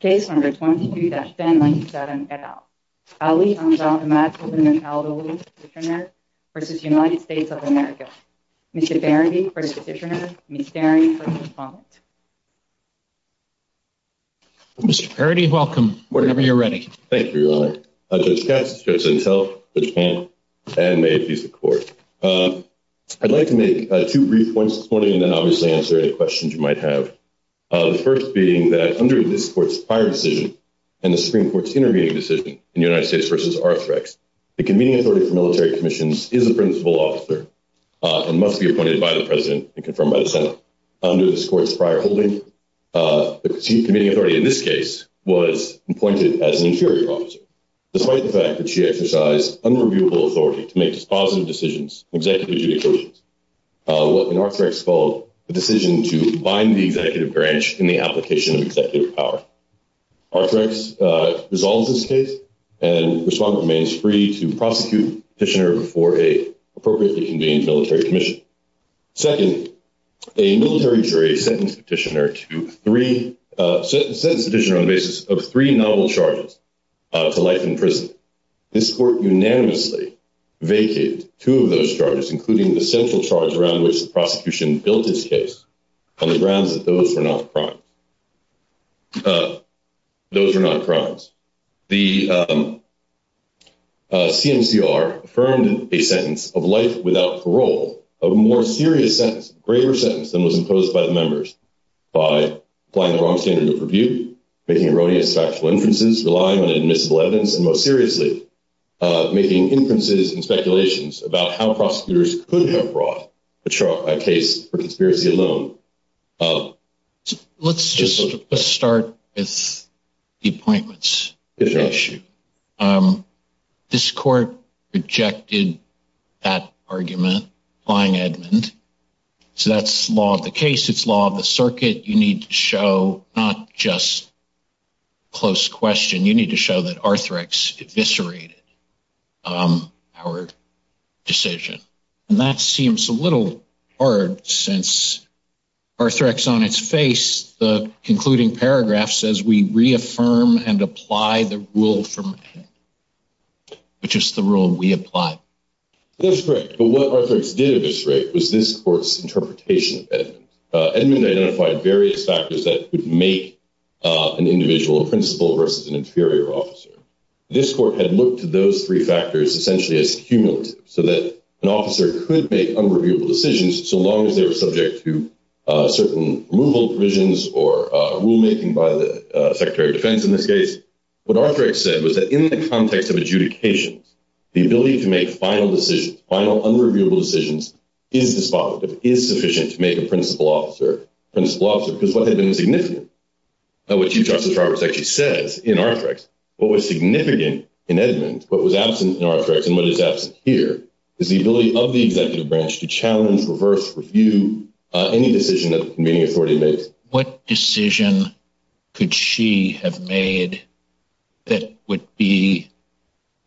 Case number 22-1097 et al. Ali Hamza Ahmad al Bahlul v. United States of America. Mr. Parody v. Petitioner. Mr. Parody v. Pompant. Mr. Parody, welcome, whenever you're ready. Thank you, Your Honor. Judge Katz, Judge Antel, Judge Hammond, and may it please the Court. I'd like to make two brief points this morning and then obviously answer any questions you might have. The first being that under this Court's prior decision and the Supreme Court's intervening decision in United States v. Arthrex, the convening authority for military commissions is a principal officer and must be appointed by the President and confirmed by the Senate. Under this Court's prior holding, the convening authority in this case was appointed as an inferior officer. Despite the fact that she exercised unreviewable authority to make dispositive decisions and executive judicial decisions, what in Arthrex is called a decision to bind the executive branch in the application of executive power. Arthrex resolves this case and the respondent remains free to prosecute Petitioner before a appropriately convened military commission. Second, a military jury sentenced Petitioner on the basis of three novel charges to life in prison. This Court unanimously vacated two of those charges, including the central charge around which the prosecution built this case, on the grounds that those were not crimes. The CMCR affirmed a sentence of life without parole, a more serious sentence, a graver sentence than was imposed by the members by applying the wrong standard of review, making erroneous factual inferences, relying on admissible evidence, and most seriously, making inferences and speculations about how prosecutors could have brought a case for conspiracy alone. Let's just start with the appointments issue. This Court rejected that argument, applying Edmund. So that's law of the case, it's law of the circuit. You need to show not just close question, you need to show that Arthrex eviscerated our decision. And that seems a little hard since Arthrex on its face, the concluding paragraph, says we reaffirm and apply the rule from Edmund, which is the rule we applied. That's correct, but what Arthrex did eviscerate was this Court's interpretation of Edmund. Edmund identified various factors that would make an individual a principal versus an inferior officer. This Court had looked to those three factors essentially as cumulative, so that an officer could make unreviewable decisions so long as they were subject to certain removal provisions or rulemaking by the Secretary of Defense in this case. What Arthrex said was that in the context of adjudications, the ability to make final decisions, final unreviewable decisions, is dispositive, is sufficient to make a principal officer a principal officer because what had been significant, what Chief Justice Roberts actually says in Arthrex, what was significant in Edmund, what was absent in Arthrex, and what is absent here, is the ability of the executive branch to challenge, reverse, review any decision that the convening authority makes. What decision could she have made that would be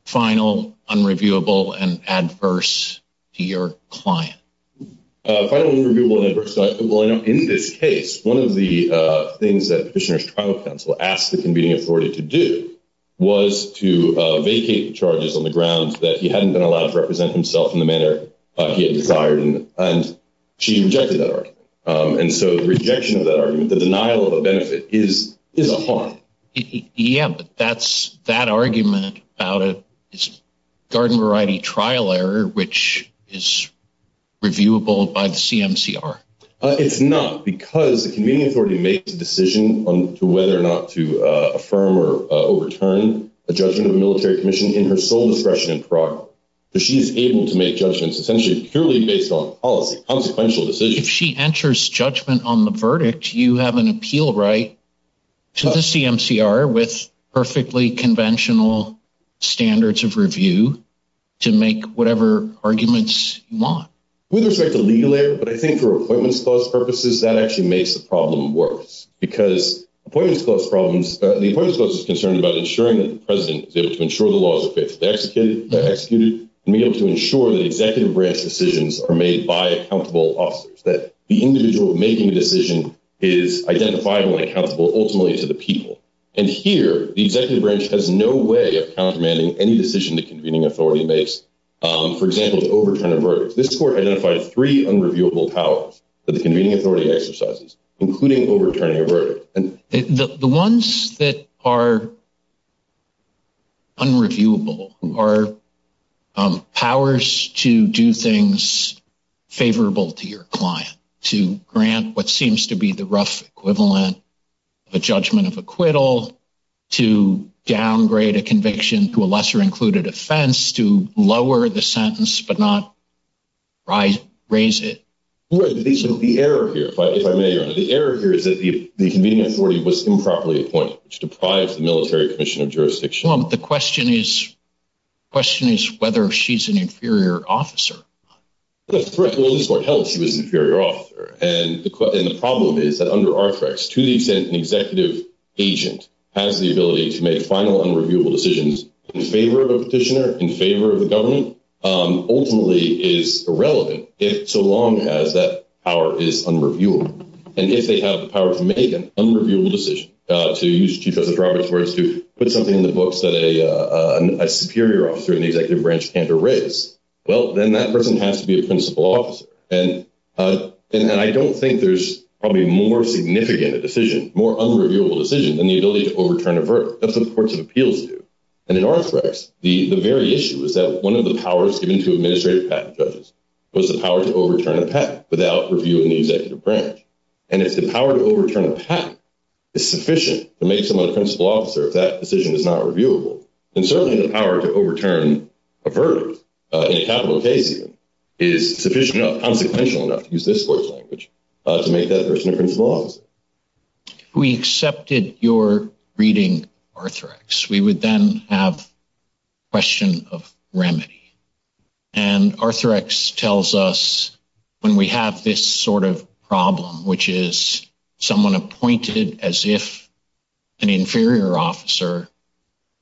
final, unreviewable, and adverse to your client? Well, in this case, one of the things that Petitioner's trial counsel asked the convening authority to do was to vacate the charges on the grounds that he hadn't been allowed to represent himself in the manner he had desired, and she rejected that argument. And so the rejection of that argument, the denial of a benefit, is a harm. Yeah, but that argument about a garden variety trial error, which is reviewable by the CMCR. It's not because the convening authority makes a decision on whether or not to affirm or overturn a judgment of a military commission in her sole discretion and prerogative. She's able to make judgments essentially purely based on policy, consequential decisions. If she enters judgment on the verdict, you have an appeal right to the CMCR with perfectly conventional standards of review to make whatever arguments you want. With respect to legal error, but I think for Appointments Clause purposes, that actually makes the problem worse, because the Appointments Clause is concerned about ensuring that the president is able to ensure the laws are faithfully executed and be able to ensure that executive branch decisions are made by accountable officers, that the individual making a decision is identifiable and accountable ultimately to the people. And here, the executive branch has no way of countermanding any decision the convening authority makes, for example, to overturn a verdict. This court identified three unreviewable powers that the convening authority exercises, including overturning a verdict. The ones that are unreviewable are powers to do things favorable to your client, to grant what seems to be the rough equivalent of a judgment of acquittal, to downgrade a conviction to a lesser included offense, to lower the sentence but not raise it. The error here, if I may, Your Honor, the error here is that the convening authority was improperly appointed to deprive the military commission of jurisdiction. The question is whether she's an inferior officer. That's correct. Well, in this court, hell, she was an inferior officer. And the problem is that under Arthrex, to the extent an executive agent has the ability to make final unreviewable decisions in favor of a petitioner, in favor of the government, ultimately is irrelevant so long as that power is unreviewable. And if they have the power to make an unreviewable decision, to use Chief Justice Roberts' words, to put something in the books that a superior officer in the executive branch can't erase, well, then that person has to be a principal officer. And I don't think there's probably more significant a decision, more unreviewable decision, than the ability to overturn a verdict. That's what courts of appeals do. And in Arthrex, the very issue is that one of the powers given to administrative patent judges was the power to overturn a patent without review in the executive branch. And if the power to overturn a patent is sufficient to make someone a principal officer, if that decision is not reviewable, then certainly the power to overturn a verdict, in a capital case even, is sufficient enough, consequential enough, to use this court's language, to make that person a principal officer. If we accepted your reading of Arthrex, we would then have a question of remedy. And Arthrex tells us when we have this sort of problem, which is someone appointed as if an inferior officer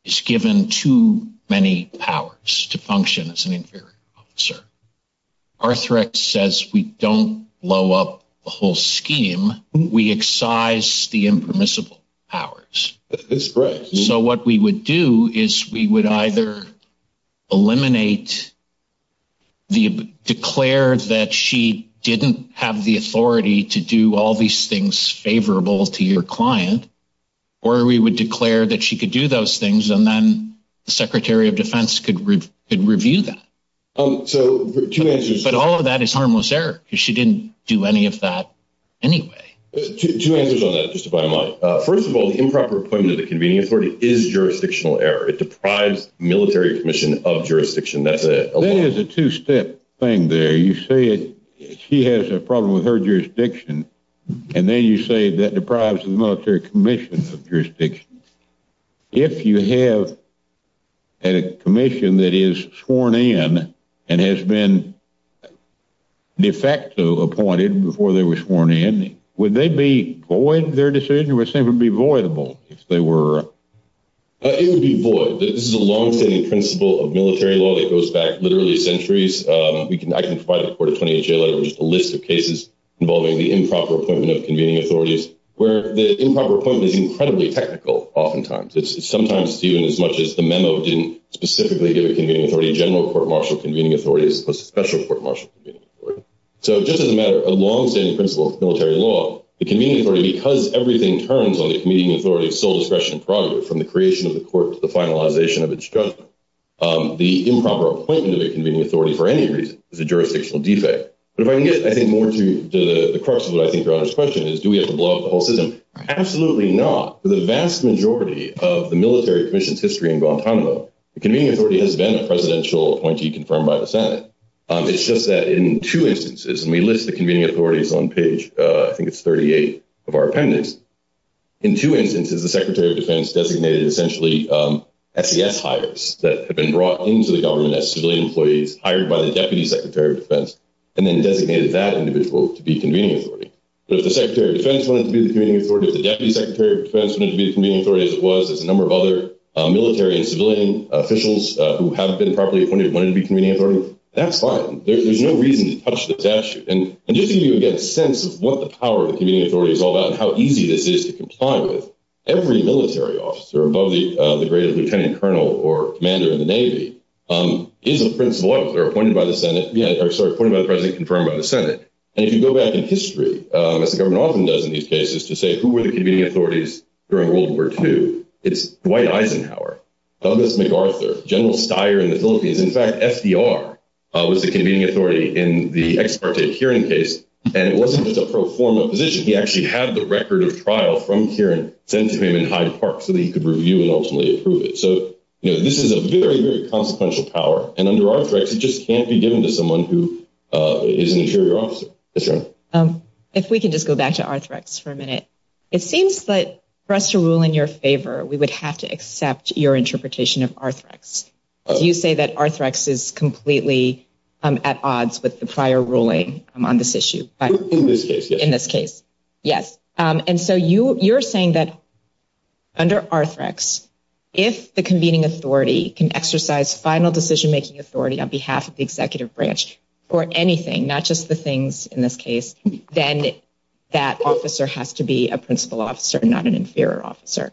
is given too many powers to function as an inferior officer, Arthrex says we don't blow up the whole scheme. We excise the impermissible powers. That's right. So what we would do is we would either eliminate, declare that she didn't have the authority to do all these things favorable to your client, or we would declare that she could do those things and then the Secretary of Defense could review that. But all of that is harmless error, because she didn't do any of that anyway. Two answers on that, just if I might. First of all, the improper appointment of the convening authority is jurisdictional error. It deprives the military commission of jurisdiction. That is a two-step thing there. You say she has a problem with her jurisdiction, and then you say that deprives the military commission of jurisdiction. If you have a commission that is sworn in and has been de facto appointed before they were sworn in, would they be void of their decision, or would it be voidable if they were? It would be void. This is a longstanding principle of military law that goes back literally centuries. I can provide a court of 28-J letter with a list of cases involving the improper appointment of convening authorities where the improper appointment is incredibly technical oftentimes. It's sometimes even as much as the memo didn't specifically give a convening authority a general court-martial convening authority as opposed to a special court-martial convening authority. So just as a matter of longstanding principle of military law, the convening authority, because everything turns on the convening authority of sole discretion and prerogative, from the creation of the court to the finalization of its judgment, the improper appointment of a convening authority for any reason is a jurisdictional defect. But if I can get, I think, more to the crux of what I think your Honor's question is, do we have to blow up the whole system? Absolutely not. For the vast majority of the military commission's history in Guantanamo, the convening authority has been a presidential appointee confirmed by the Senate. It's just that in two instances, and we list the convening authorities on page, I think it's 38, of our appendix. In two instances, the Secretary of Defense designated essentially SES hires that had been brought into the government as civilian employees hired by the Deputy Secretary of Defense, and then designated that individual to be convening authority. But if the Secretary of Defense wanted to be the convening authority, if the Deputy Secretary of Defense wanted to be the convening authority as it was, as a number of other military and civilian officials who haven't been properly appointed wanted to be convening authority, that's fine. There's no reason to touch the statute. And just to give you, again, a sense of what the power of the convening authority is all about and how easy this is to comply with, every military officer above the grade of lieutenant colonel or commander in the Navy is appointed by the president, confirmed by the Senate. And if you go back in history, as the government often does in these cases, to say who were the convening authorities during World War II, it's Dwight Eisenhower, Douglas MacArthur, General Steyer in the Philippines. In fact, FDR was the convening authority in the Ex parte hearing case, and it wasn't just a pro forma position. He actually had the record of trial from here sent to him in Hyde Park so that he could review and ultimately approve it. So, you know, this is a very, very consequential power. And under Arthrex, it just can't be given to someone who is an interior officer. If we can just go back to Arthrex for a minute. It seems that for us to rule in your favor, we would have to accept your interpretation of Arthrex. You say that Arthrex is completely at odds with the prior ruling on this issue. In this case, yes. In this case, yes. And so you you're saying that under Arthrex, if the convening authority can exercise final decision making authority on behalf of the executive branch or anything, not just the things in this case, then that officer has to be a principal officer, not an inferior officer.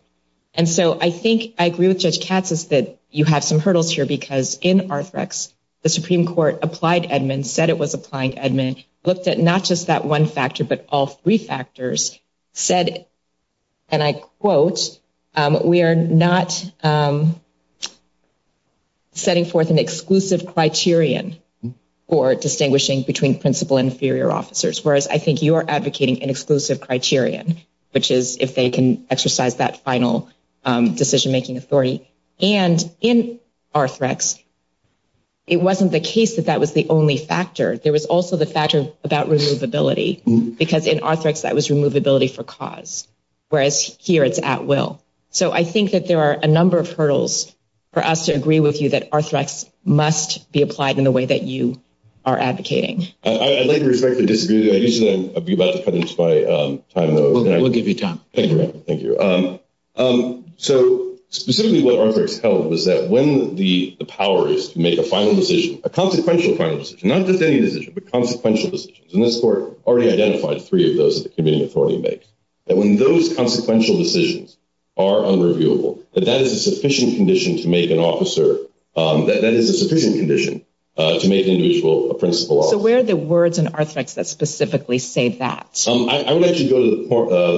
And so I think I agree with Judge Katz that you have some hurdles here, because in Arthrex, the Supreme Court applied Edmunds, said it was applying Edmunds, looked at not just that one factor, but all three factors said, and I quote, we are not setting forth an exclusive criterion for distinguishing between principal and inferior officers. Whereas I think you are advocating an exclusive criterion, which is if they can exercise that final decision making authority. And in Arthrex, it wasn't the case that that was the only factor. There was also the factor about removability, because in Arthrex that was removability for cause, whereas here it's at will. So I think that there are a number of hurdles for us to agree with you that Arthrex must be applied in the way that you are advocating. I'd like to reflect the disagreement. I usually be about to cut into my time, though. We'll give you time. Thank you. So specifically what Arthrex held was that when the power is to make a final decision, a consequential final decision, not just any decision, but consequential decisions, and this court already identified three of those that the committing authority makes, that when those consequential decisions are unreviewable, that that is a sufficient condition to make an officer, that is a sufficient condition to make an individual a principal officer. So where are the words in Arthrex that specifically say that? I would like to go to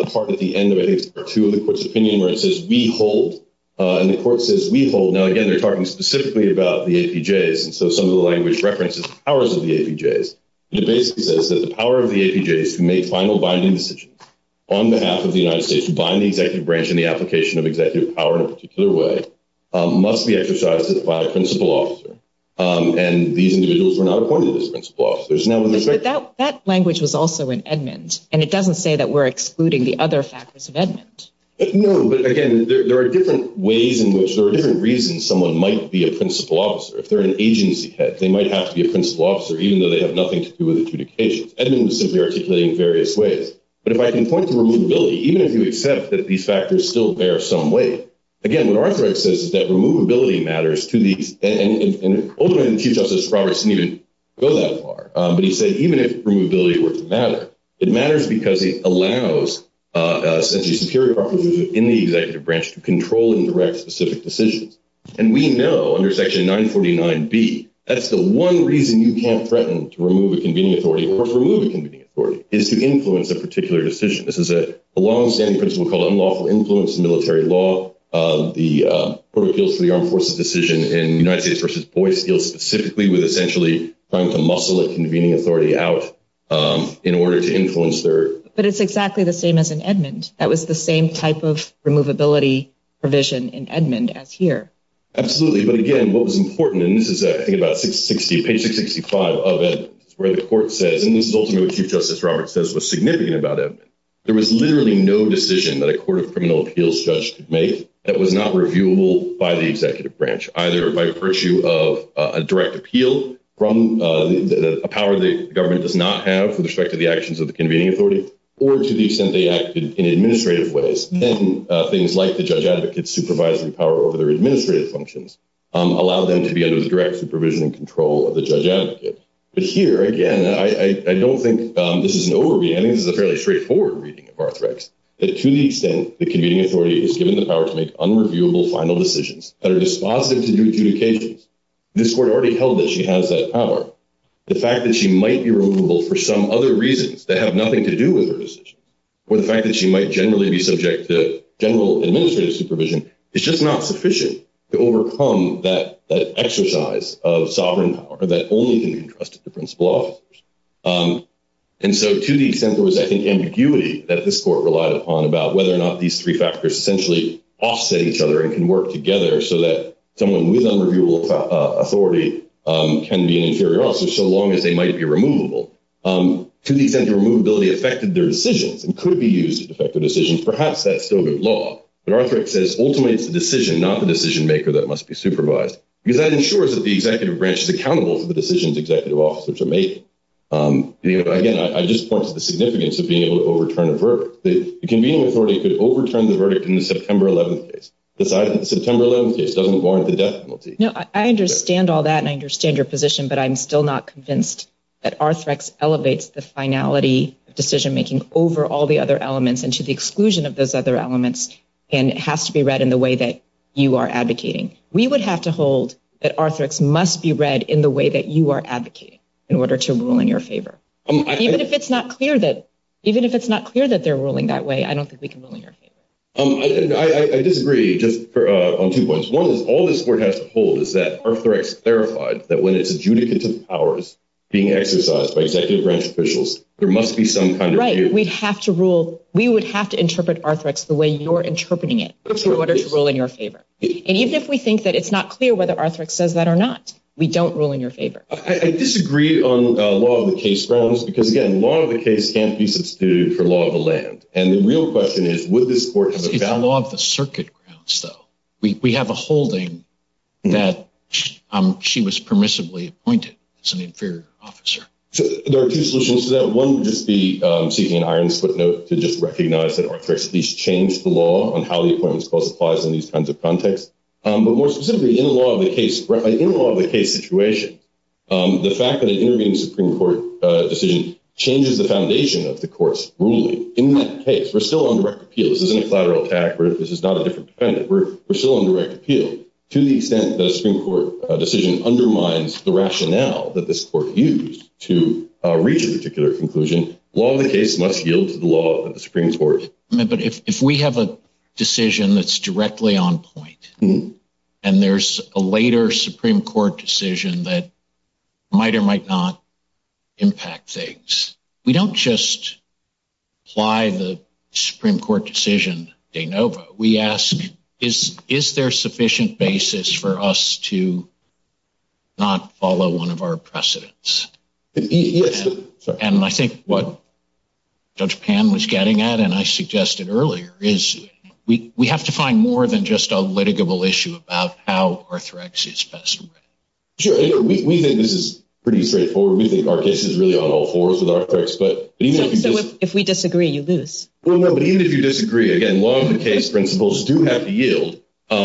the part at the end of I think part two of the court's opinion where it says we hold, and the court says we hold. Now, again, they're talking specifically about the APJs, and so some of the language references the powers of the APJs. It basically says that the power of the APJs to make final binding decisions on behalf of the United States to bind the executive branch in the application of executive power in a particular way must be exercised by a principal officer, and these individuals were not appointed as principal officers. But that language was also in Edmund, and it doesn't say that we're excluding the other factors of Edmund. No, but, again, there are different ways in which there are different reasons someone might be a principal officer. If they're an agency head, they might have to be a principal officer, even though they have nothing to do with adjudications. Edmund was simply articulating various ways. But if I can point to removability, even if you accept that these factors still bear some weight, again, what Arthrex says is that removability matters to these, and ultimately Chief Justice Roberts didn't even go that far. But he said even if removability were to matter, it matters because it allows essentially superior properties within the executive branch to control and direct specific decisions. And we know under Section 949B that's the one reason you can't threaten to remove a convening authority or to remove a convening authority is to influence a particular decision. This is a longstanding principle called unlawful influence in military law. The Court of Appeals for the Armed Forces decision in United States v. Boyce deals specifically with essentially trying to muscle a convening authority out in order to influence their… But it's exactly the same as in Edmund. That was the same type of removability provision in Edmund as here. Absolutely, but, again, what was important, and this is, I think, about page 665 of Edmund, where the court says, and this is ultimately what Chief Justice Roberts says was significant about Edmund, there was literally no decision that a Court of Criminal Appeals judge could make that was not reviewable by the executive branch, either by virtue of a direct appeal from a power the government does not have with respect to the actions of the convening authority or to the extent they acted in administrative ways. Then things like the judge advocate's supervisory power over their administrative functions allow them to be under the direct supervision and control of the judge advocate. But here, again, I don't think this is an over-reading. I think this is a fairly straightforward reading of Arthrex. To the extent the convening authority is given the power to make unreviewable final decisions that are dispositive to new adjudications, this Court already held that she has that power. The fact that she might be removable for some other reasons that have nothing to do with her decision or the fact that she might generally be subject to general administrative supervision is just not sufficient to overcome that exercise of sovereign power that only can be entrusted to principal officers. And so to the extent there was, I think, ambiguity that this Court relied upon about whether or not these three factors essentially offset each other and can work together so that someone with unreviewable authority can be an inferior officer so long as they might be removable. To the extent the removability affected their decisions and could be used to affect their decisions, perhaps that's still good law. But Arthrex says ultimately it's the decision, not the decision-maker, that must be supervised because that ensures that the executive branch is accountable for the decisions executive officers are making. Again, I just point to the significance of being able to overturn a verdict. The convening authority could overturn the verdict in the September 11th case, decide that the September 11th case doesn't warrant the death penalty. No, I understand all that and I understand your position, but I'm still not convinced that Arthrex elevates the finality of decision-making over all the other elements and to the exclusion of those other elements and it has to be read in the way that you are advocating. We would have to hold that Arthrex must be read in the way that you are advocating in order to rule in your favor. Even if it's not clear that they're ruling that way, I don't think we can rule in your favor. I disagree on two points. One is all this Court has to hold is that Arthrex clarified that when it's adjudicative powers being exercised by executive branch officials, there must be some kind of view. Right, we would have to interpret Arthrex the way you're interpreting it in order to rule in your favor. And even if we think that it's not clear whether Arthrex says that or not, we don't rule in your favor. I disagree on law of the case grounds because, again, law of the case can't be substituted for law of the land. And the real question is would this Court have a balance? It's the law of the circuit grounds, though. We have a holding that she was permissibly appointed as an inferior officer. There are two solutions to that. One would just be seeking an iron footnote to just recognize that Arthrex at least changed the law on how the Appointments Clause applies in these kinds of contexts. But more specifically, in a law of the case situation, the fact that an intervening Supreme Court decision changes the foundation of the Court's ruling. In that case, we're still on direct appeal. This isn't a collateral attack or this is not a different defendant. We're still on direct appeal. To the extent that a Supreme Court decision undermines the rationale that this Court used to reach a particular conclusion, law of the case must yield to the law of the Supreme Court. But if we have a decision that's directly on point, and there's a later Supreme Court decision that might or might not impact things, we don't just apply the Supreme Court decision de novo. We ask, is there sufficient basis for us to not follow one of our precedents? Yes. And I think what Judge Pan was getting at, and I suggested earlier, is we have to find more than just a litigable issue about how Arthrex is best read. Sure. We think this is pretty straightforward. We think our case is really on all fours with Arthrex. So if we disagree, you lose? Well, no, but even if you disagree, again, law of the case principles do have to yield. I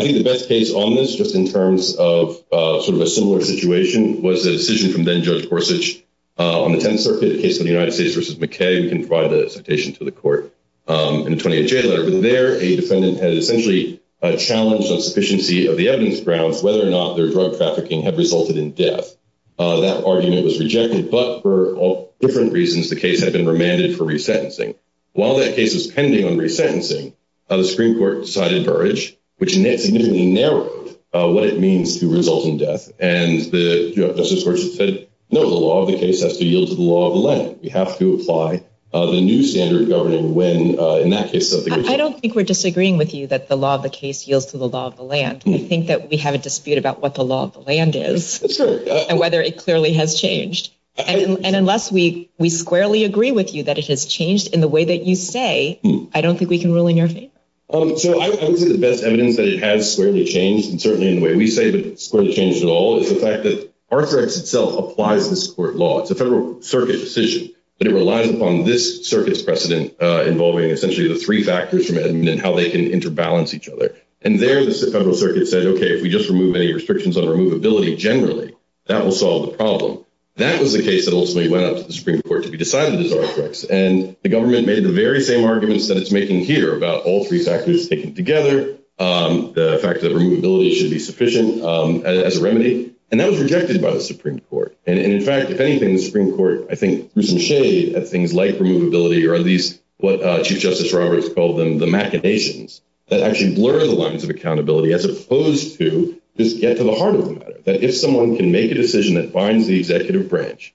think the best case on this, just in terms of sort of a similar situation, was a decision from then-Judge Gorsuch on the Tenth Circuit, a case of the United States v. McKay. We can provide the citation to the Court in a 28-J letter. But there, a defendant had essentially challenged on sufficiency of the evidence grounds whether or not their drug trafficking had resulted in death. That argument was rejected. But for different reasons, the case had been remanded for resentencing. While that case was pending on resentencing, the Supreme Court decided to urge, which significantly narrowed what it means to result in death. And Justice Gorsuch said, no, the law of the case has to yield to the law of the land. We have to apply the new standard of governing when, in that case, something goes wrong. I don't think we're disagreeing with you that the law of the case yields to the law of the land. I think that we have a dispute about what the law of the land is. And whether it clearly has changed. And unless we squarely agree with you that it has changed in the way that you say, I don't think we can rule in your favor. So I would say the best evidence that it has squarely changed, and certainly in the way we say that it squarely changed at all, is the fact that Arthur X itself applies this court law. It's a federal circuit decision. But it relies upon this circuit's precedent involving, essentially, the three factors from Edmund and how they can interbalance each other. And there, the federal circuit said, okay, if we just remove any restrictions on removability generally, that will solve the problem. That was the case that ultimately went up to the Supreme Court to be decided as Arthur X. And the government made the very same arguments that it's making here about all three factors taken together, the fact that removability should be sufficient as a remedy. And that was rejected by the Supreme Court. And, in fact, if anything, the Supreme Court, I think, threw some shade at things like removability, or at least what Chief Justice Roberts called them, the machinations that actually blur the lines of accountability, as opposed to just get to the heart of the matter, that if someone can make a decision that binds the executive branch,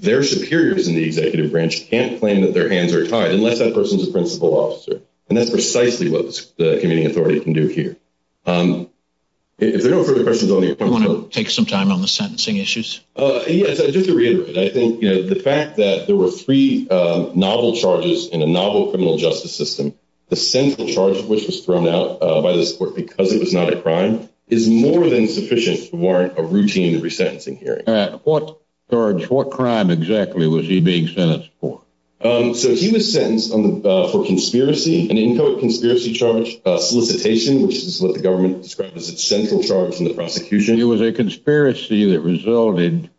their superiors in the executive branch can't claim that their hands are tied, unless that person's a principal officer. And that's precisely what the committee authority can do here. If there are no further questions, I'll let you come forward. Do you want to take some time on the sentencing issues? Yes, just to reiterate, I think the fact that there were three novel charges in a novel criminal justice system, the central charge of which was thrown out by this court because it was not a crime, is more than sufficient to warrant a routine resentencing hearing. All right. What charge, what crime exactly was he being sentenced for? So he was sentenced for conspiracy, an inchoate conspiracy charge, solicitation, which is what the government described as its central charge in the prosecution. It was a conspiracy that resulted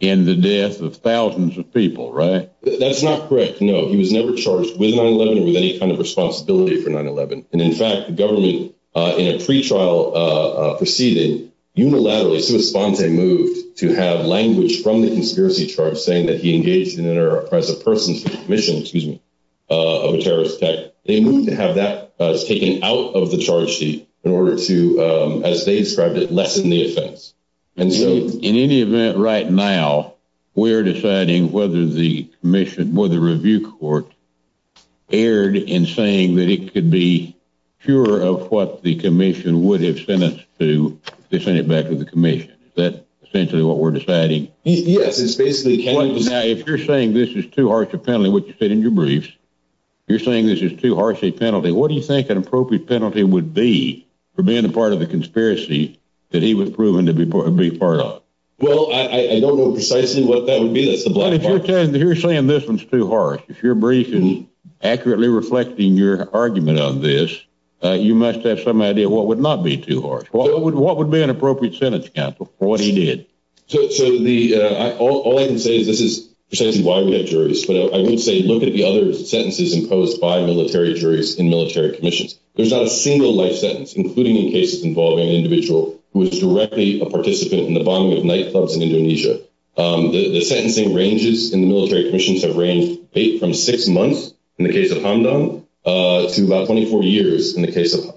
in the death of thousands of people, right? That's not correct. No, he was never charged with 9-11 or with any kind of responsibility for 9-11. And in fact, the government, in a pretrial proceeding, unilaterally, sui sponte moved to have language from the conspiracy charge saying that he engaged in an or as a person's mission, excuse me, of a terrorist attack. They moved to have that taken out of the charge sheet in order to, as they described it, lessen the offense. In any event, right now, we're deciding whether the commission, whether the review court, erred in saying that it could be pure of what the commission would have sent it back to the commission. Is that essentially what we're deciding? Yes, it's basically. Now, if you're saying this is too harsh a penalty, which you said in your briefs, you're saying this is too harsh a penalty, what do you think an appropriate penalty would be for being a part of the conspiracy that he was proven to be part of? Well, I don't know precisely what that would be. But if you're saying this one's too harsh, if your brief is accurately reflecting your argument on this, you must have some idea what would not be too harsh. What would be an appropriate sentence, counsel, for what he did? So all I can say is this is precisely why we have juries. But I would say look at the other sentences imposed by military juries in military commissions. There's not a single life sentence, including in cases involving an individual who was directly a participant in the bombing of nightclubs in Indonesia. The sentencing ranges in the military commissions have ranged from six months in the case of Hamdan to about 24 years in the case of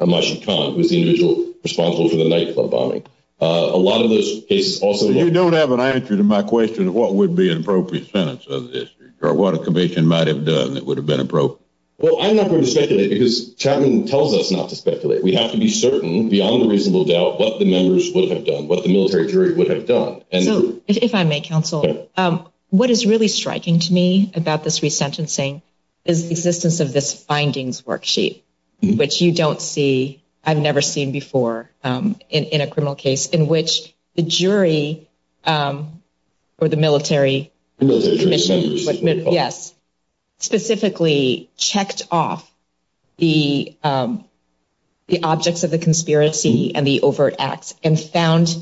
Masyuk Khan, who was the individual responsible for the nightclub bombing. A lot of those cases also- So you don't have an answer to my question of what would be an appropriate sentence of this, or what a commission might have done that would have been appropriate? Well, I'm not going to speculate because Chapman tells us not to speculate. We have to be certain beyond a reasonable doubt what the members would have done, what the military jury would have done. So if I may, counsel, what is really striking to me about this resentencing is the existence of this findings worksheet, which you don't see, I've never seen before in a criminal case in which the jury or the military commission specifically checked off the objects of the conspiracy and the overt acts and found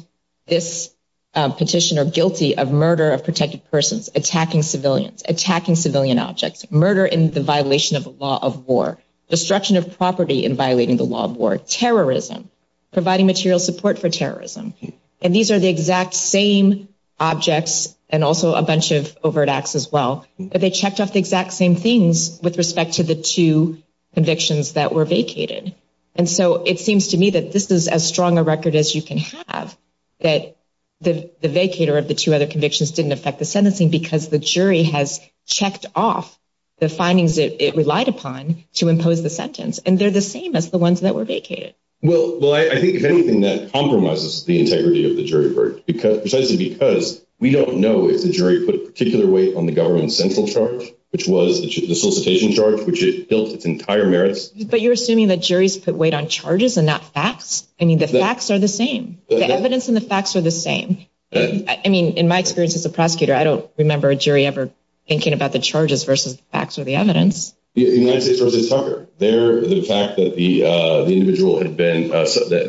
this petitioner guilty of murder of protected persons, attacking civilians, attacking civilian objects, murder in the violation of the law of war, destruction of property in violating the law of war, terrorism, providing material support for terrorism. And these are the exact same objects and also a bunch of overt acts as well, but they checked off the exact same things with respect to the two convictions that were vacated. And so it seems to me that this is as strong a record as you can have, that the vacator of the two other convictions didn't affect the sentencing because the jury has checked off the findings it relied upon to impose the sentence, and they're the same as the ones that were vacated. Well, I think if anything, that compromises the integrity of the jury verdict, precisely because we don't know if the jury put a particular weight on the government central charge, which was the solicitation charge, which it built its entire merits. But you're assuming that juries put weight on charges and not facts? I mean, the facts are the same. The evidence and the facts are the same. I mean, in my experience as a prosecutor, I don't remember a jury ever thinking about the charges versus the facts or the evidence. United States v. Tucker, the fact that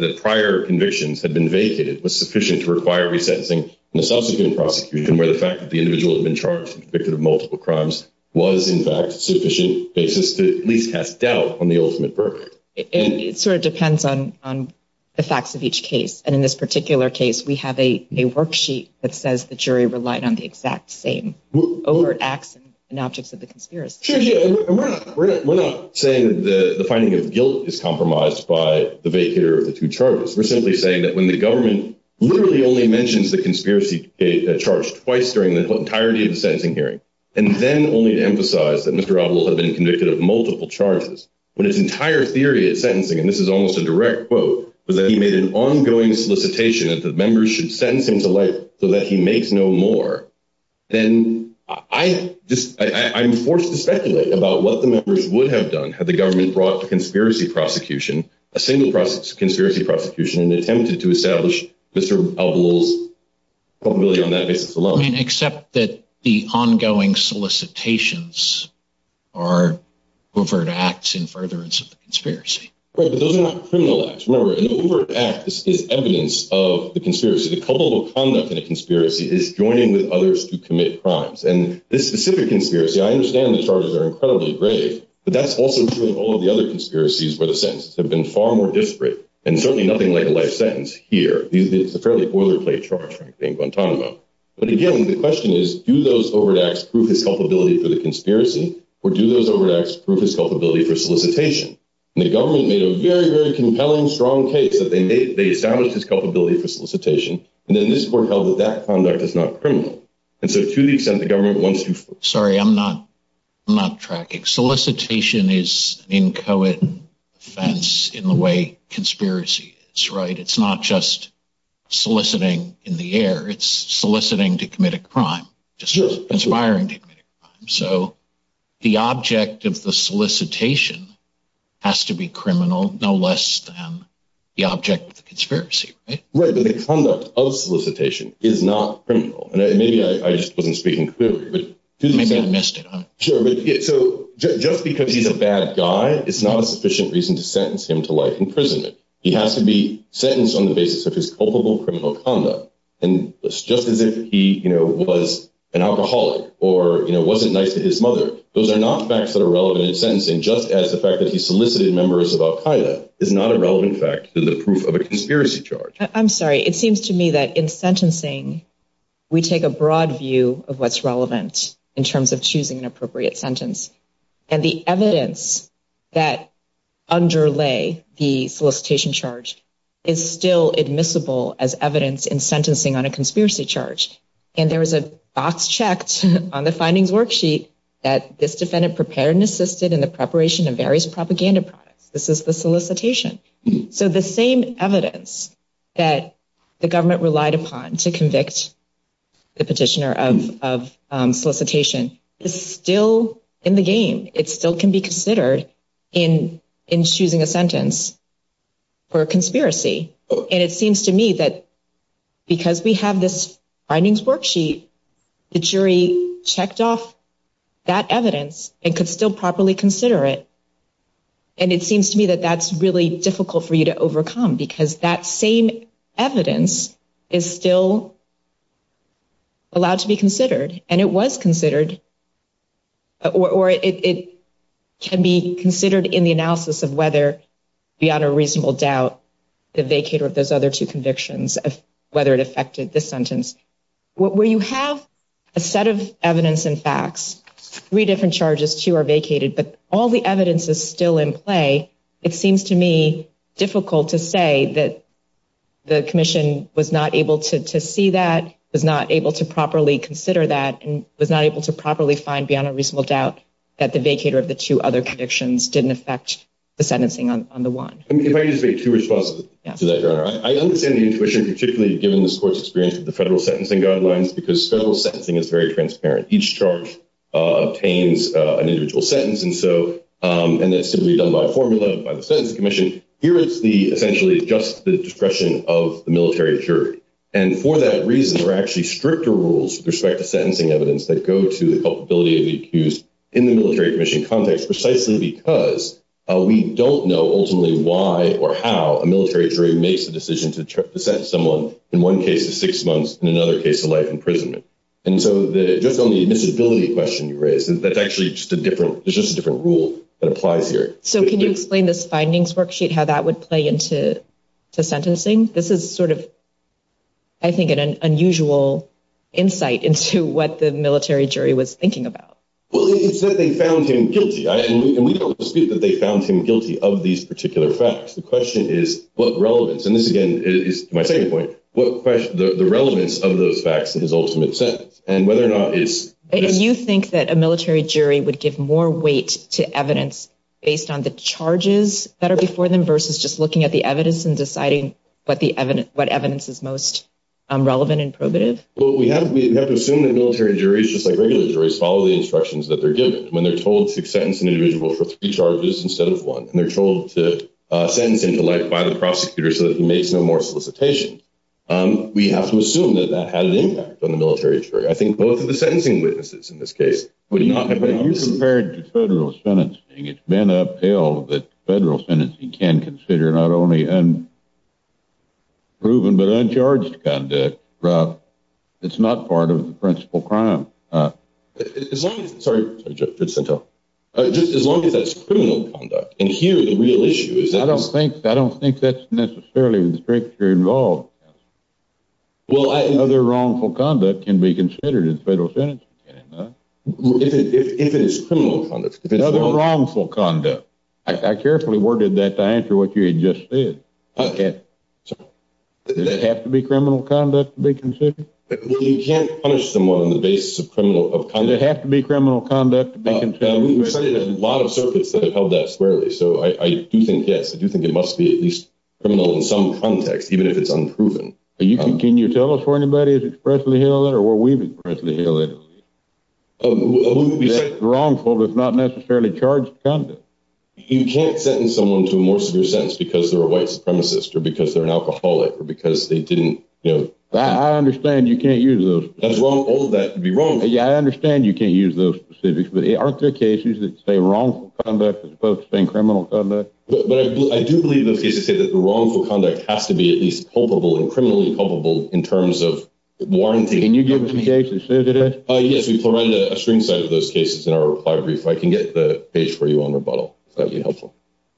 the prior convictions had been vacated was sufficient to require resentencing in the subsequent prosecution, where the fact that the individual had been charged and convicted of multiple crimes was, in fact, sufficient basis to at least cast doubt on the ultimate verdict. It sort of depends on the facts of each case. And in this particular case, we have a worksheet that says the jury relied on the exact same overt acts and objects of the conspiracy. We're not saying that the finding of guilt is compromised by the vacater of the two charges. We're simply saying that when the government literally only mentions the conspiracy charge twice during the entirety of the sentencing hearing, and then only to emphasize that Mr. Avril had been convicted of multiple charges, when his entire theory of sentencing, and this is almost a direct quote, was that he made an ongoing solicitation that the members should sentence him to life so that he makes no more, then I'm forced to speculate about what the members would have done had the government brought the conspiracy prosecution, a single conspiracy prosecution, and attempted to establish Mr. Avril's culpability on that basis alone. I mean, except that the ongoing solicitations are overt acts in furtherance of the conspiracy. Right, but those are not criminal acts. Remember, an overt act is evidence of the conspiracy. The culpable conduct in a conspiracy is joining with others to commit crimes. And this specific conspiracy, I understand the charges are incredibly grave, but that's also true of all of the other conspiracies where the sentences have been far more disparate, and certainly nothing like a life sentence here. It's a fairly boilerplate charge, frankly, in Guantanamo. But again, the question is, do those overt acts prove his culpability for the conspiracy, or do those overt acts prove his culpability for solicitation? And the government made a very, very compelling, strong case that they established his culpability for solicitation, and then this court held that that conduct is not criminal. And so to the extent the government wants to... Sorry, I'm not tracking. Solicitation is an inchoate offense in the way conspiracy is, right? It's not just soliciting in the air. It's soliciting to commit a crime, just conspiring to commit a crime. So the object of the solicitation has to be criminal, no less than the object of the conspiracy, right? Right, but the conduct of solicitation is not criminal. And maybe I just wasn't speaking clearly, but to the extent... Maybe I missed it. Sure. So just because he's a bad guy is not a sufficient reason to sentence him to life imprisonment. He has to be sentenced on the basis of his culpable criminal conduct. And just as if he was an alcoholic or wasn't nice to his mother, those are not facts that are relevant in sentencing, just as the fact that he solicited members of Al-Qaeda is not a relevant fact to the proof of a conspiracy charge. I'm sorry. It seems to me that in sentencing, we take a broad view of what's relevant in terms of choosing an appropriate sentence. And the evidence that underlay the solicitation charge is still admissible as evidence in sentencing on a conspiracy charge. And there was a box checked on the findings worksheet that this defendant prepared and assisted in the preparation of various propaganda products. This is the solicitation. So the same evidence that the government relied upon to convict the petitioner of solicitation is still in the game. It still can be considered in choosing a sentence for a conspiracy. And it seems to me that because we have this findings worksheet, the jury checked off that evidence and could still properly consider it. And it seems to me that that's really difficult for you to overcome because that same evidence is still allowed to be considered. And it was considered or it can be considered in the analysis of whether, beyond a reasonable doubt, the vacater of those other two convictions of whether it affected the sentence. Where you have a set of evidence and facts, three different charges, two are vacated, but all the evidence is still in play. It seems to me difficult to say that the commission was not able to see that, was not able to properly consider that, and was not able to properly find beyond a reasonable doubt that the vacater of the two other convictions didn't affect the sentencing on the one. If I could just make two responses to that, Your Honor. I understand the intuition, particularly given this court's experience with the federal sentencing guidelines, because federal sentencing is very transparent. Each charge obtains an individual sentence. And that's simply done by formula, by the Sentencing Commission. Here is essentially just the discretion of the military jury. And for that reason, there are actually stricter rules with respect to sentencing evidence that go to the culpability of the accused in the military commission context, precisely because we don't know ultimately why or how a military jury makes a decision to sentence someone in one case of six months, in another case of life imprisonment. And so just on the admissibility question you raised, that's actually just a different rule that applies here. So can you explain this findings worksheet, how that would play into sentencing? This is sort of, I think, an unusual insight into what the military jury was thinking about. Well, it's that they found him guilty. And we don't dispute that they found him guilty of these particular facts. The question is what relevance. And this, again, is my second point, the relevance of those facts in his ultimate sentence and whether or not it's this. You think that a military jury would give more weight to evidence based on the charges that are before them versus just looking at the evidence and deciding what evidence is most relevant and probative? Well, we have to assume that military juries, just like regular juries, follow the instructions that they're given. When they're told to sentence an individual for three charges instead of one, and they're told to sentence him to life by the prosecutor so that he makes no more solicitation, we have to assume that that had an impact on the military jury. I think both of the sentencing witnesses in this case would not have had an impact. You compare it to federal sentencing. It's been upheld that federal sentencing can consider not only unproven but uncharged conduct. It's not part of the principal crime. As long as that's criminal conduct. And here the real issue is that. I don't think that's necessarily with the strict jury involved. Other wrongful conduct can be considered in federal sentencing. If it is criminal conduct. Other wrongful conduct. I carefully worded that to answer what you had just said. Okay. Does it have to be criminal conduct to be considered? You can't punish someone on the basis of criminal conduct. Does it have to be criminal conduct to be considered? We've cited a lot of circuits that have held that squarely. So I do think, yes, I do think it must be at least criminal in some context, even if it's unproven. Can you tell us where anybody has expressly held it or where we've expressly held it? Wrongful if not necessarily charged conduct. You can't sentence someone to a more severe sentence because they're a white supremacist or because they're an alcoholic or because they didn't. I understand you can't use those. All of that would be wrongful. I understand you can't use those specifics, but aren't there cases that say wrongful conduct as opposed to saying criminal conduct? But I do believe those cases say that the wrongful conduct has to be at least culpable and criminally culpable in terms of warranting. Can you give us a case? Yes, we've provided a string set of those cases in our reply brief. I can get the page for you on rebuttal if that would be helpful.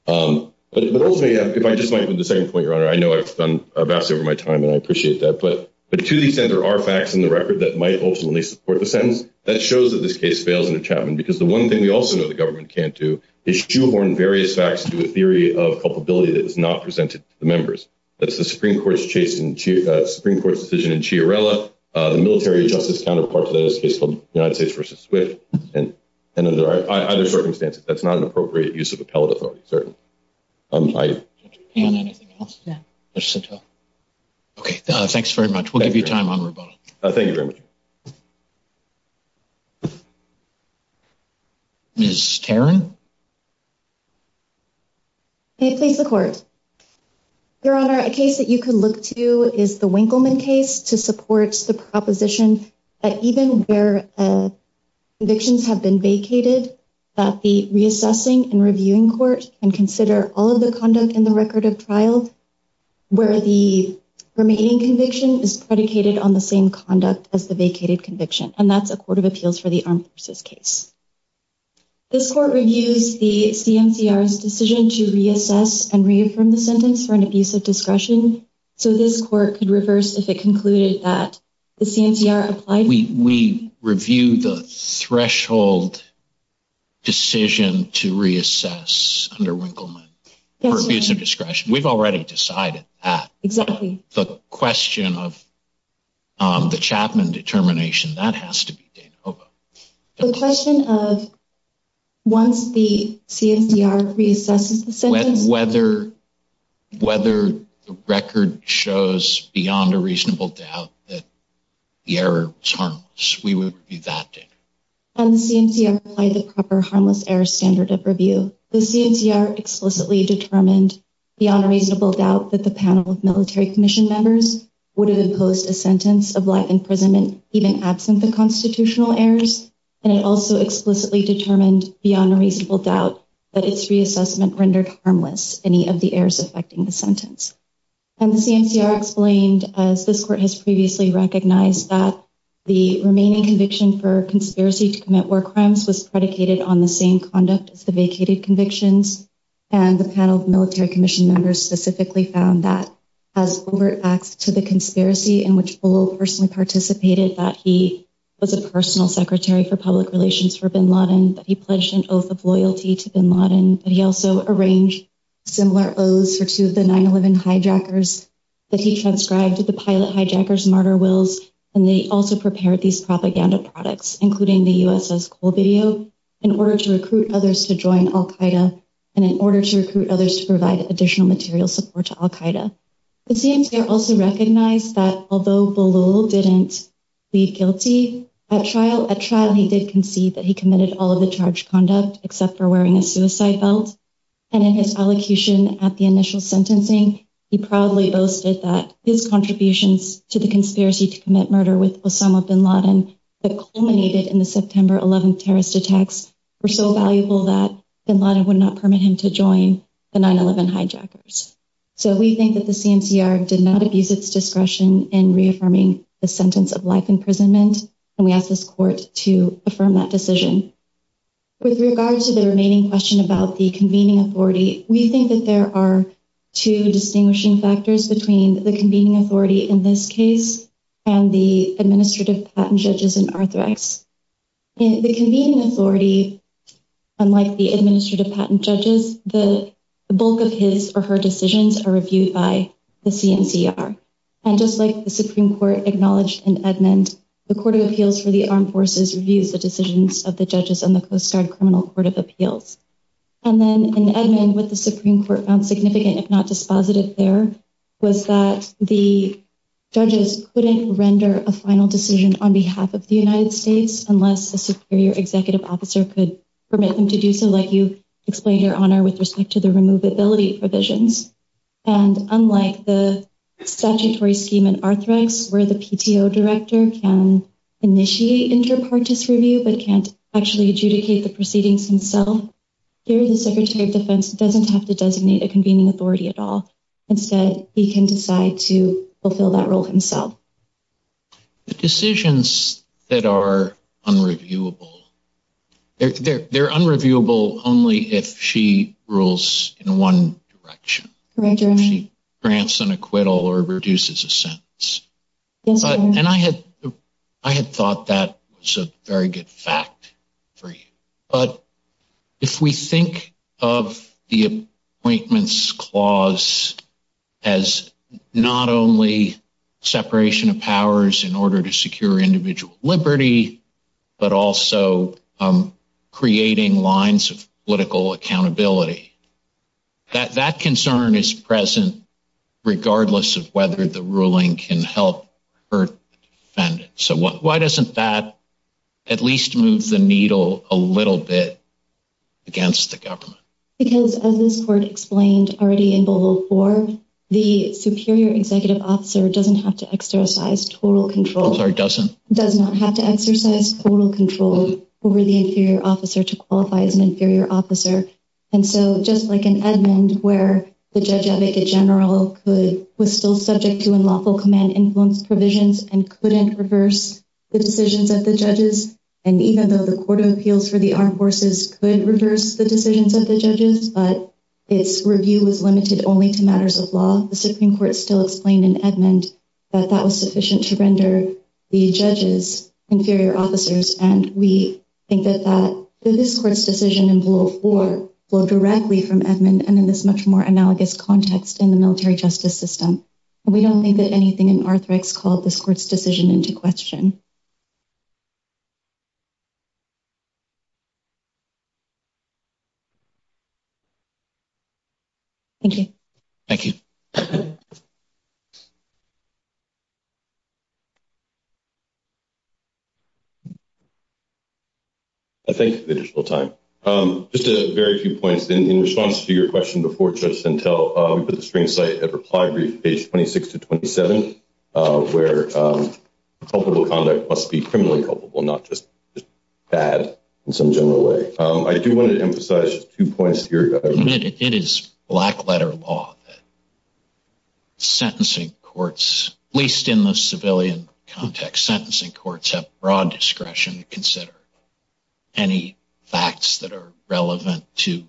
But ultimately, if I just might put the second point, Your Honor, I know I've done vastly over my time, and I appreciate that. But to the extent there are facts in the record that might ultimately support the sentence, that shows that this case fails in a Chapman because the one thing we also know the government can't do is shoehorn various facts into a theory of culpability that is not presented to the members. That's the Supreme Court's decision in Chiarella. The military justice counterpart to that is a case called United States v. Swift. And under either circumstance, that's not an appropriate use of appellate authority, certainly. Okay, thanks very much. We'll give you time on rebuttal. Thank you very much. Ms. Tarrant? May it please the Court? Your Honor, a case that you could look to is the Winkleman case to support the proposition that even where convictions have been vacated, that the reassessing and reviewing court can consider all of the conduct in the record of trial where the remaining conviction is predicated on the same conduct as the vacated conviction, and that's a court of appeals for the Armed Forces case. This court reviews the CMCR's decision to reassess and reaffirm the sentence for an abuse of discretion, so this court could reverse if it concluded that the CMCR applied for a review. We review the threshold decision to reassess under Winkleman for abuse of discretion. We've already decided that. Exactly. The question of the Chapman determination, that has to be Danova. The question of once the CMCR reassesses the sentence? Whether the record shows beyond a reasonable doubt that the error was harmless. We would review that, Dana. And the CMCR applied the proper harmless error standard of review. The CMCR explicitly determined beyond a reasonable doubt that the panel of military commission members would have imposed a sentence of life imprisonment even absent the constitutional errors, and it also explicitly determined beyond a reasonable doubt that its reassessment rendered harmless any of the errors affecting the sentence. And the CMCR explained, as this court has previously recognized, that the remaining conviction for conspiracy to commit war crimes was predicated on the same conduct as the vacated convictions, and the panel of military commission members specifically found that, as overt facts to the conspiracy in which Bullo personally participated, that he was a personal secretary for public relations for bin Laden, that he pledged an oath of loyalty to bin Laden, that he also arranged similar oaths for two of the 9-11 hijackers, that he transcribed the pilot hijackers' martyr wills, and they also prepared these propaganda products, including the USS Colvideo, in order to recruit others to join al-Qaeda, and in order to recruit others to provide additional material support to al-Qaeda. The CMCR also recognized that, although Bullo didn't plead guilty at trial, at trial he did concede that he committed all of the charged conduct except for wearing a suicide belt, and in his allocution at the initial sentencing, he proudly boasted that his contributions to the conspiracy to commit murder with Osama bin Laden that culminated in the September 11th terrorist attacks were so valuable that bin Laden would not permit him to join the 9-11 hijackers. So we think that the CMCR did not abuse its discretion in reaffirming the sentence of life imprisonment, and we ask this court to affirm that decision. With regard to the remaining question about the convening authority, we think that there are two distinguishing factors between the convening authority in this case and the administrative patent judges in Arthrex. In the convening authority, unlike the administrative patent judges, the bulk of his or her decisions are reviewed by the CMCR, and just like the Supreme Court acknowledged in Edmund, the Court of Appeals for the Armed Forces reviews the decisions of the judges in the Coast Guard Criminal Court of Appeals. And then in Edmund, what the Supreme Court found significant, if not dispositive there, was that the judges couldn't render a final decision on behalf of the United States unless a superior executive officer could permit them to do so, like you explained, Your Honor, with respect to the removability provisions. And unlike the statutory scheme in Arthrex, where the PTO director can initiate inter partes review but can't actually adjudicate the proceedings himself, here the Secretary of Defense doesn't have to designate a convening authority at all. Instead, he can decide to fulfill that role himself. The decisions that are unreviewable, they're unreviewable only if she rules in one direction. Correct, Your Honor. If she grants an acquittal or reduces a sentence. Yes, Your Honor. And I had thought that was a very good fact for you. But if we think of the Appointments Clause as not only separation of powers in order to secure individual liberty but also creating lines of political accountability, that concern is present regardless of whether the ruling can help hurt the defendant. So why doesn't that at least move the needle a little bit against the government? Because as this Court explained already in Boval IV, the superior executive officer doesn't have to exercise total control. I'm sorry, doesn't? Does not have to exercise total control over the inferior officer to qualify as an inferior officer. And so just like in Edmond where the judge advocate general was still subject to unlawful command influence provisions and couldn't reverse the decisions of the judges, and even though the Court of Appeals for the Armed Forces could reverse the decisions of the judges, but its review was limited only to matters of law, the Supreme Court still explained in Edmond that that was sufficient to render the judges inferior officers. And we think that this Court's decision in Boval IV flowed directly from Edmond and in this much more analogous context in the military justice system. We don't think that anything in Arthrex called this Court's decision into question. Thank you. Thank you. I thank you for the additional time. Just a very few points. In response to your question before Judge Sentel, we put the screen site at reply brief, page 26 to 27, where culpable conduct must be criminally culpable, not just bad in some general way. I do want to emphasize two points here. It is black-letter law that sentencing courts, at least in the civilian context, sentencing courts have broad discretion to consider any facts that are relevant to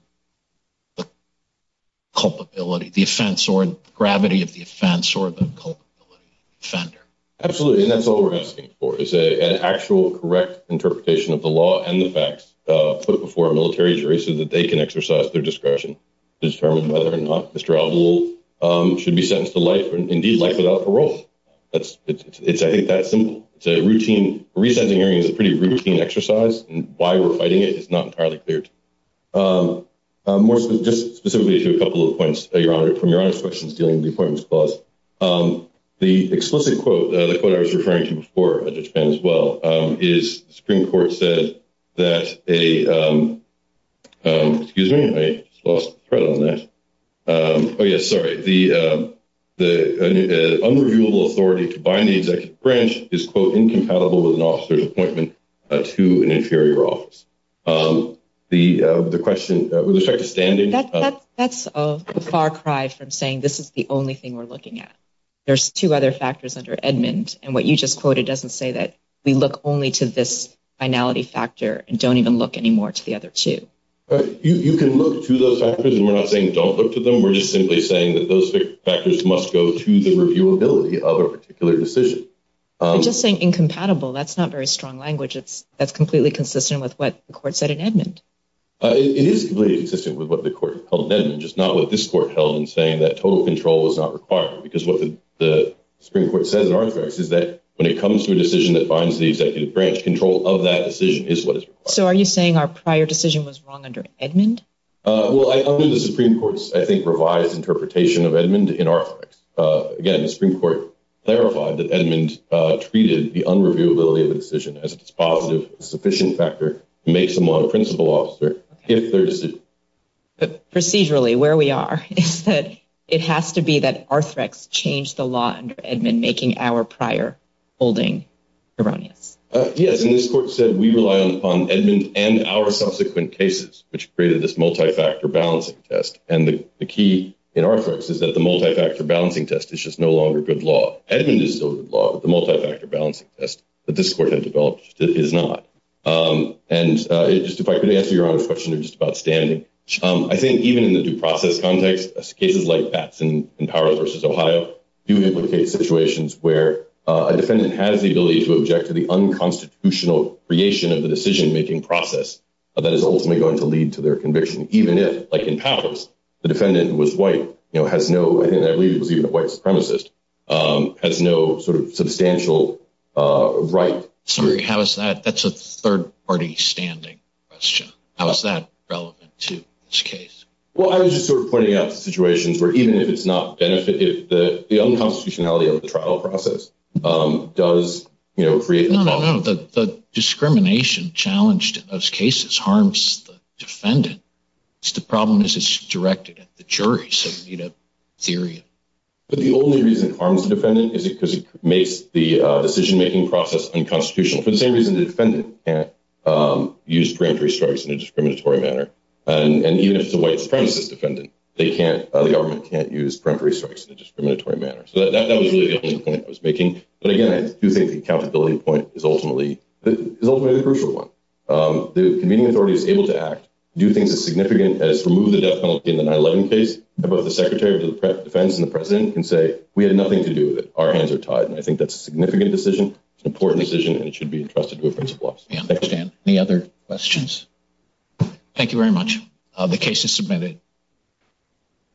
the culpability, the offense or gravity of the offense or the culpability of the offender. Absolutely, and that's all we're asking for is an actual, correct interpretation of the law and the facts put before a military jury so that they can exercise their discretion to determine whether or not Mr. Albol should be sentenced to life or indeed life without parole. It's, I think, that simple. It's a routine, resentencing hearing is a pretty routine exercise, and why we're fighting it is not entirely clear to me. More specifically to a couple of points from Your Honor's questions dealing with the Appointments Clause, the explicit quote, the quote I was referring to before, Judge Penn as well, is the Supreme Court said that a, excuse me, I lost the thread on that. Oh, yes, sorry. The unreviewable authority to bind the executive branch is, quote, incompatible with an officer's appointment to an inferior office. The question with respect to standing. That's a far cry from saying this is the only thing we're looking at. There's two other factors under Edmund, and what you just quoted doesn't say that we look only to this finality factor and don't even look anymore to the other two. You can look to those factors, and we're not saying don't look to them. We're just simply saying that those factors must go to the reviewability of a particular decision. You're just saying incompatible. That's not very strong language. That's completely consistent with what the court said in Edmund. It is completely consistent with what the court held in Edmund, just not what this court held in saying that total control was not required, because what the Supreme Court says in Arthrex is that when it comes to a decision that binds the executive branch, control of that decision is what is required. So are you saying our prior decision was wrong under Edmund? Well, I think the Supreme Court's, I think, revised interpretation of Edmund in Arthrex. Again, the Supreme Court clarified that Edmund treated the unreviewability of a decision as a dispositive, sufficient factor to make someone a principal officer if their decision. Procedurally, where we are is that it has to be that Arthrex changed the law under Edmund, making our prior holding erroneous. Yes, and this court said we rely upon Edmund and our subsequent cases, which created this multi-factor balancing test. And the key in Arthrex is that the multi-factor balancing test is just no longer good law. Edmund is still good law, but the multi-factor balancing test that this court had developed is not. And just if I could answer Your Honor's question just about standing. I think even in the due process context, cases like Batson in Power v. Ohio do implicate situations where a defendant has the ability to object to the unconstitutional creation of the decision-making process that is ultimately going to lead to their conviction, even if, like in Powers, the defendant was white, has no, I believe it was even a white supremacist, has no sort of substantial right. Sorry, how is that? That's a third-party standing question. How is that relevant to this case? Well, I was just sort of pointing out the situations where even if it's not benefited, the unconstitutionality of the trial process does create the problem. No, no, no. The discrimination challenged in those cases harms the defendant. The problem is it's directed at the jury, so you need a theory. But the only reason it harms the defendant is because it makes the decision-making process unconstitutional. For the same reason the defendant can't use preemptory strikes in a discriminatory manner. And even if it's a white supremacist defendant, the government can't use preemptory strikes in a discriminatory manner. So that was really the only point I was making. But again, I do think the accountability point is ultimately the crucial one. The convening authority is able to act, do things as significant as remove the death penalty in the 9-11 case, and both the Secretary of Defense and the President can say, we had nothing to do with it, our hands are tied. And I think that's a significant decision, an important decision, and it should be entrusted to a principle officer. I understand. Any other questions? Thank you very much. The case is submitted.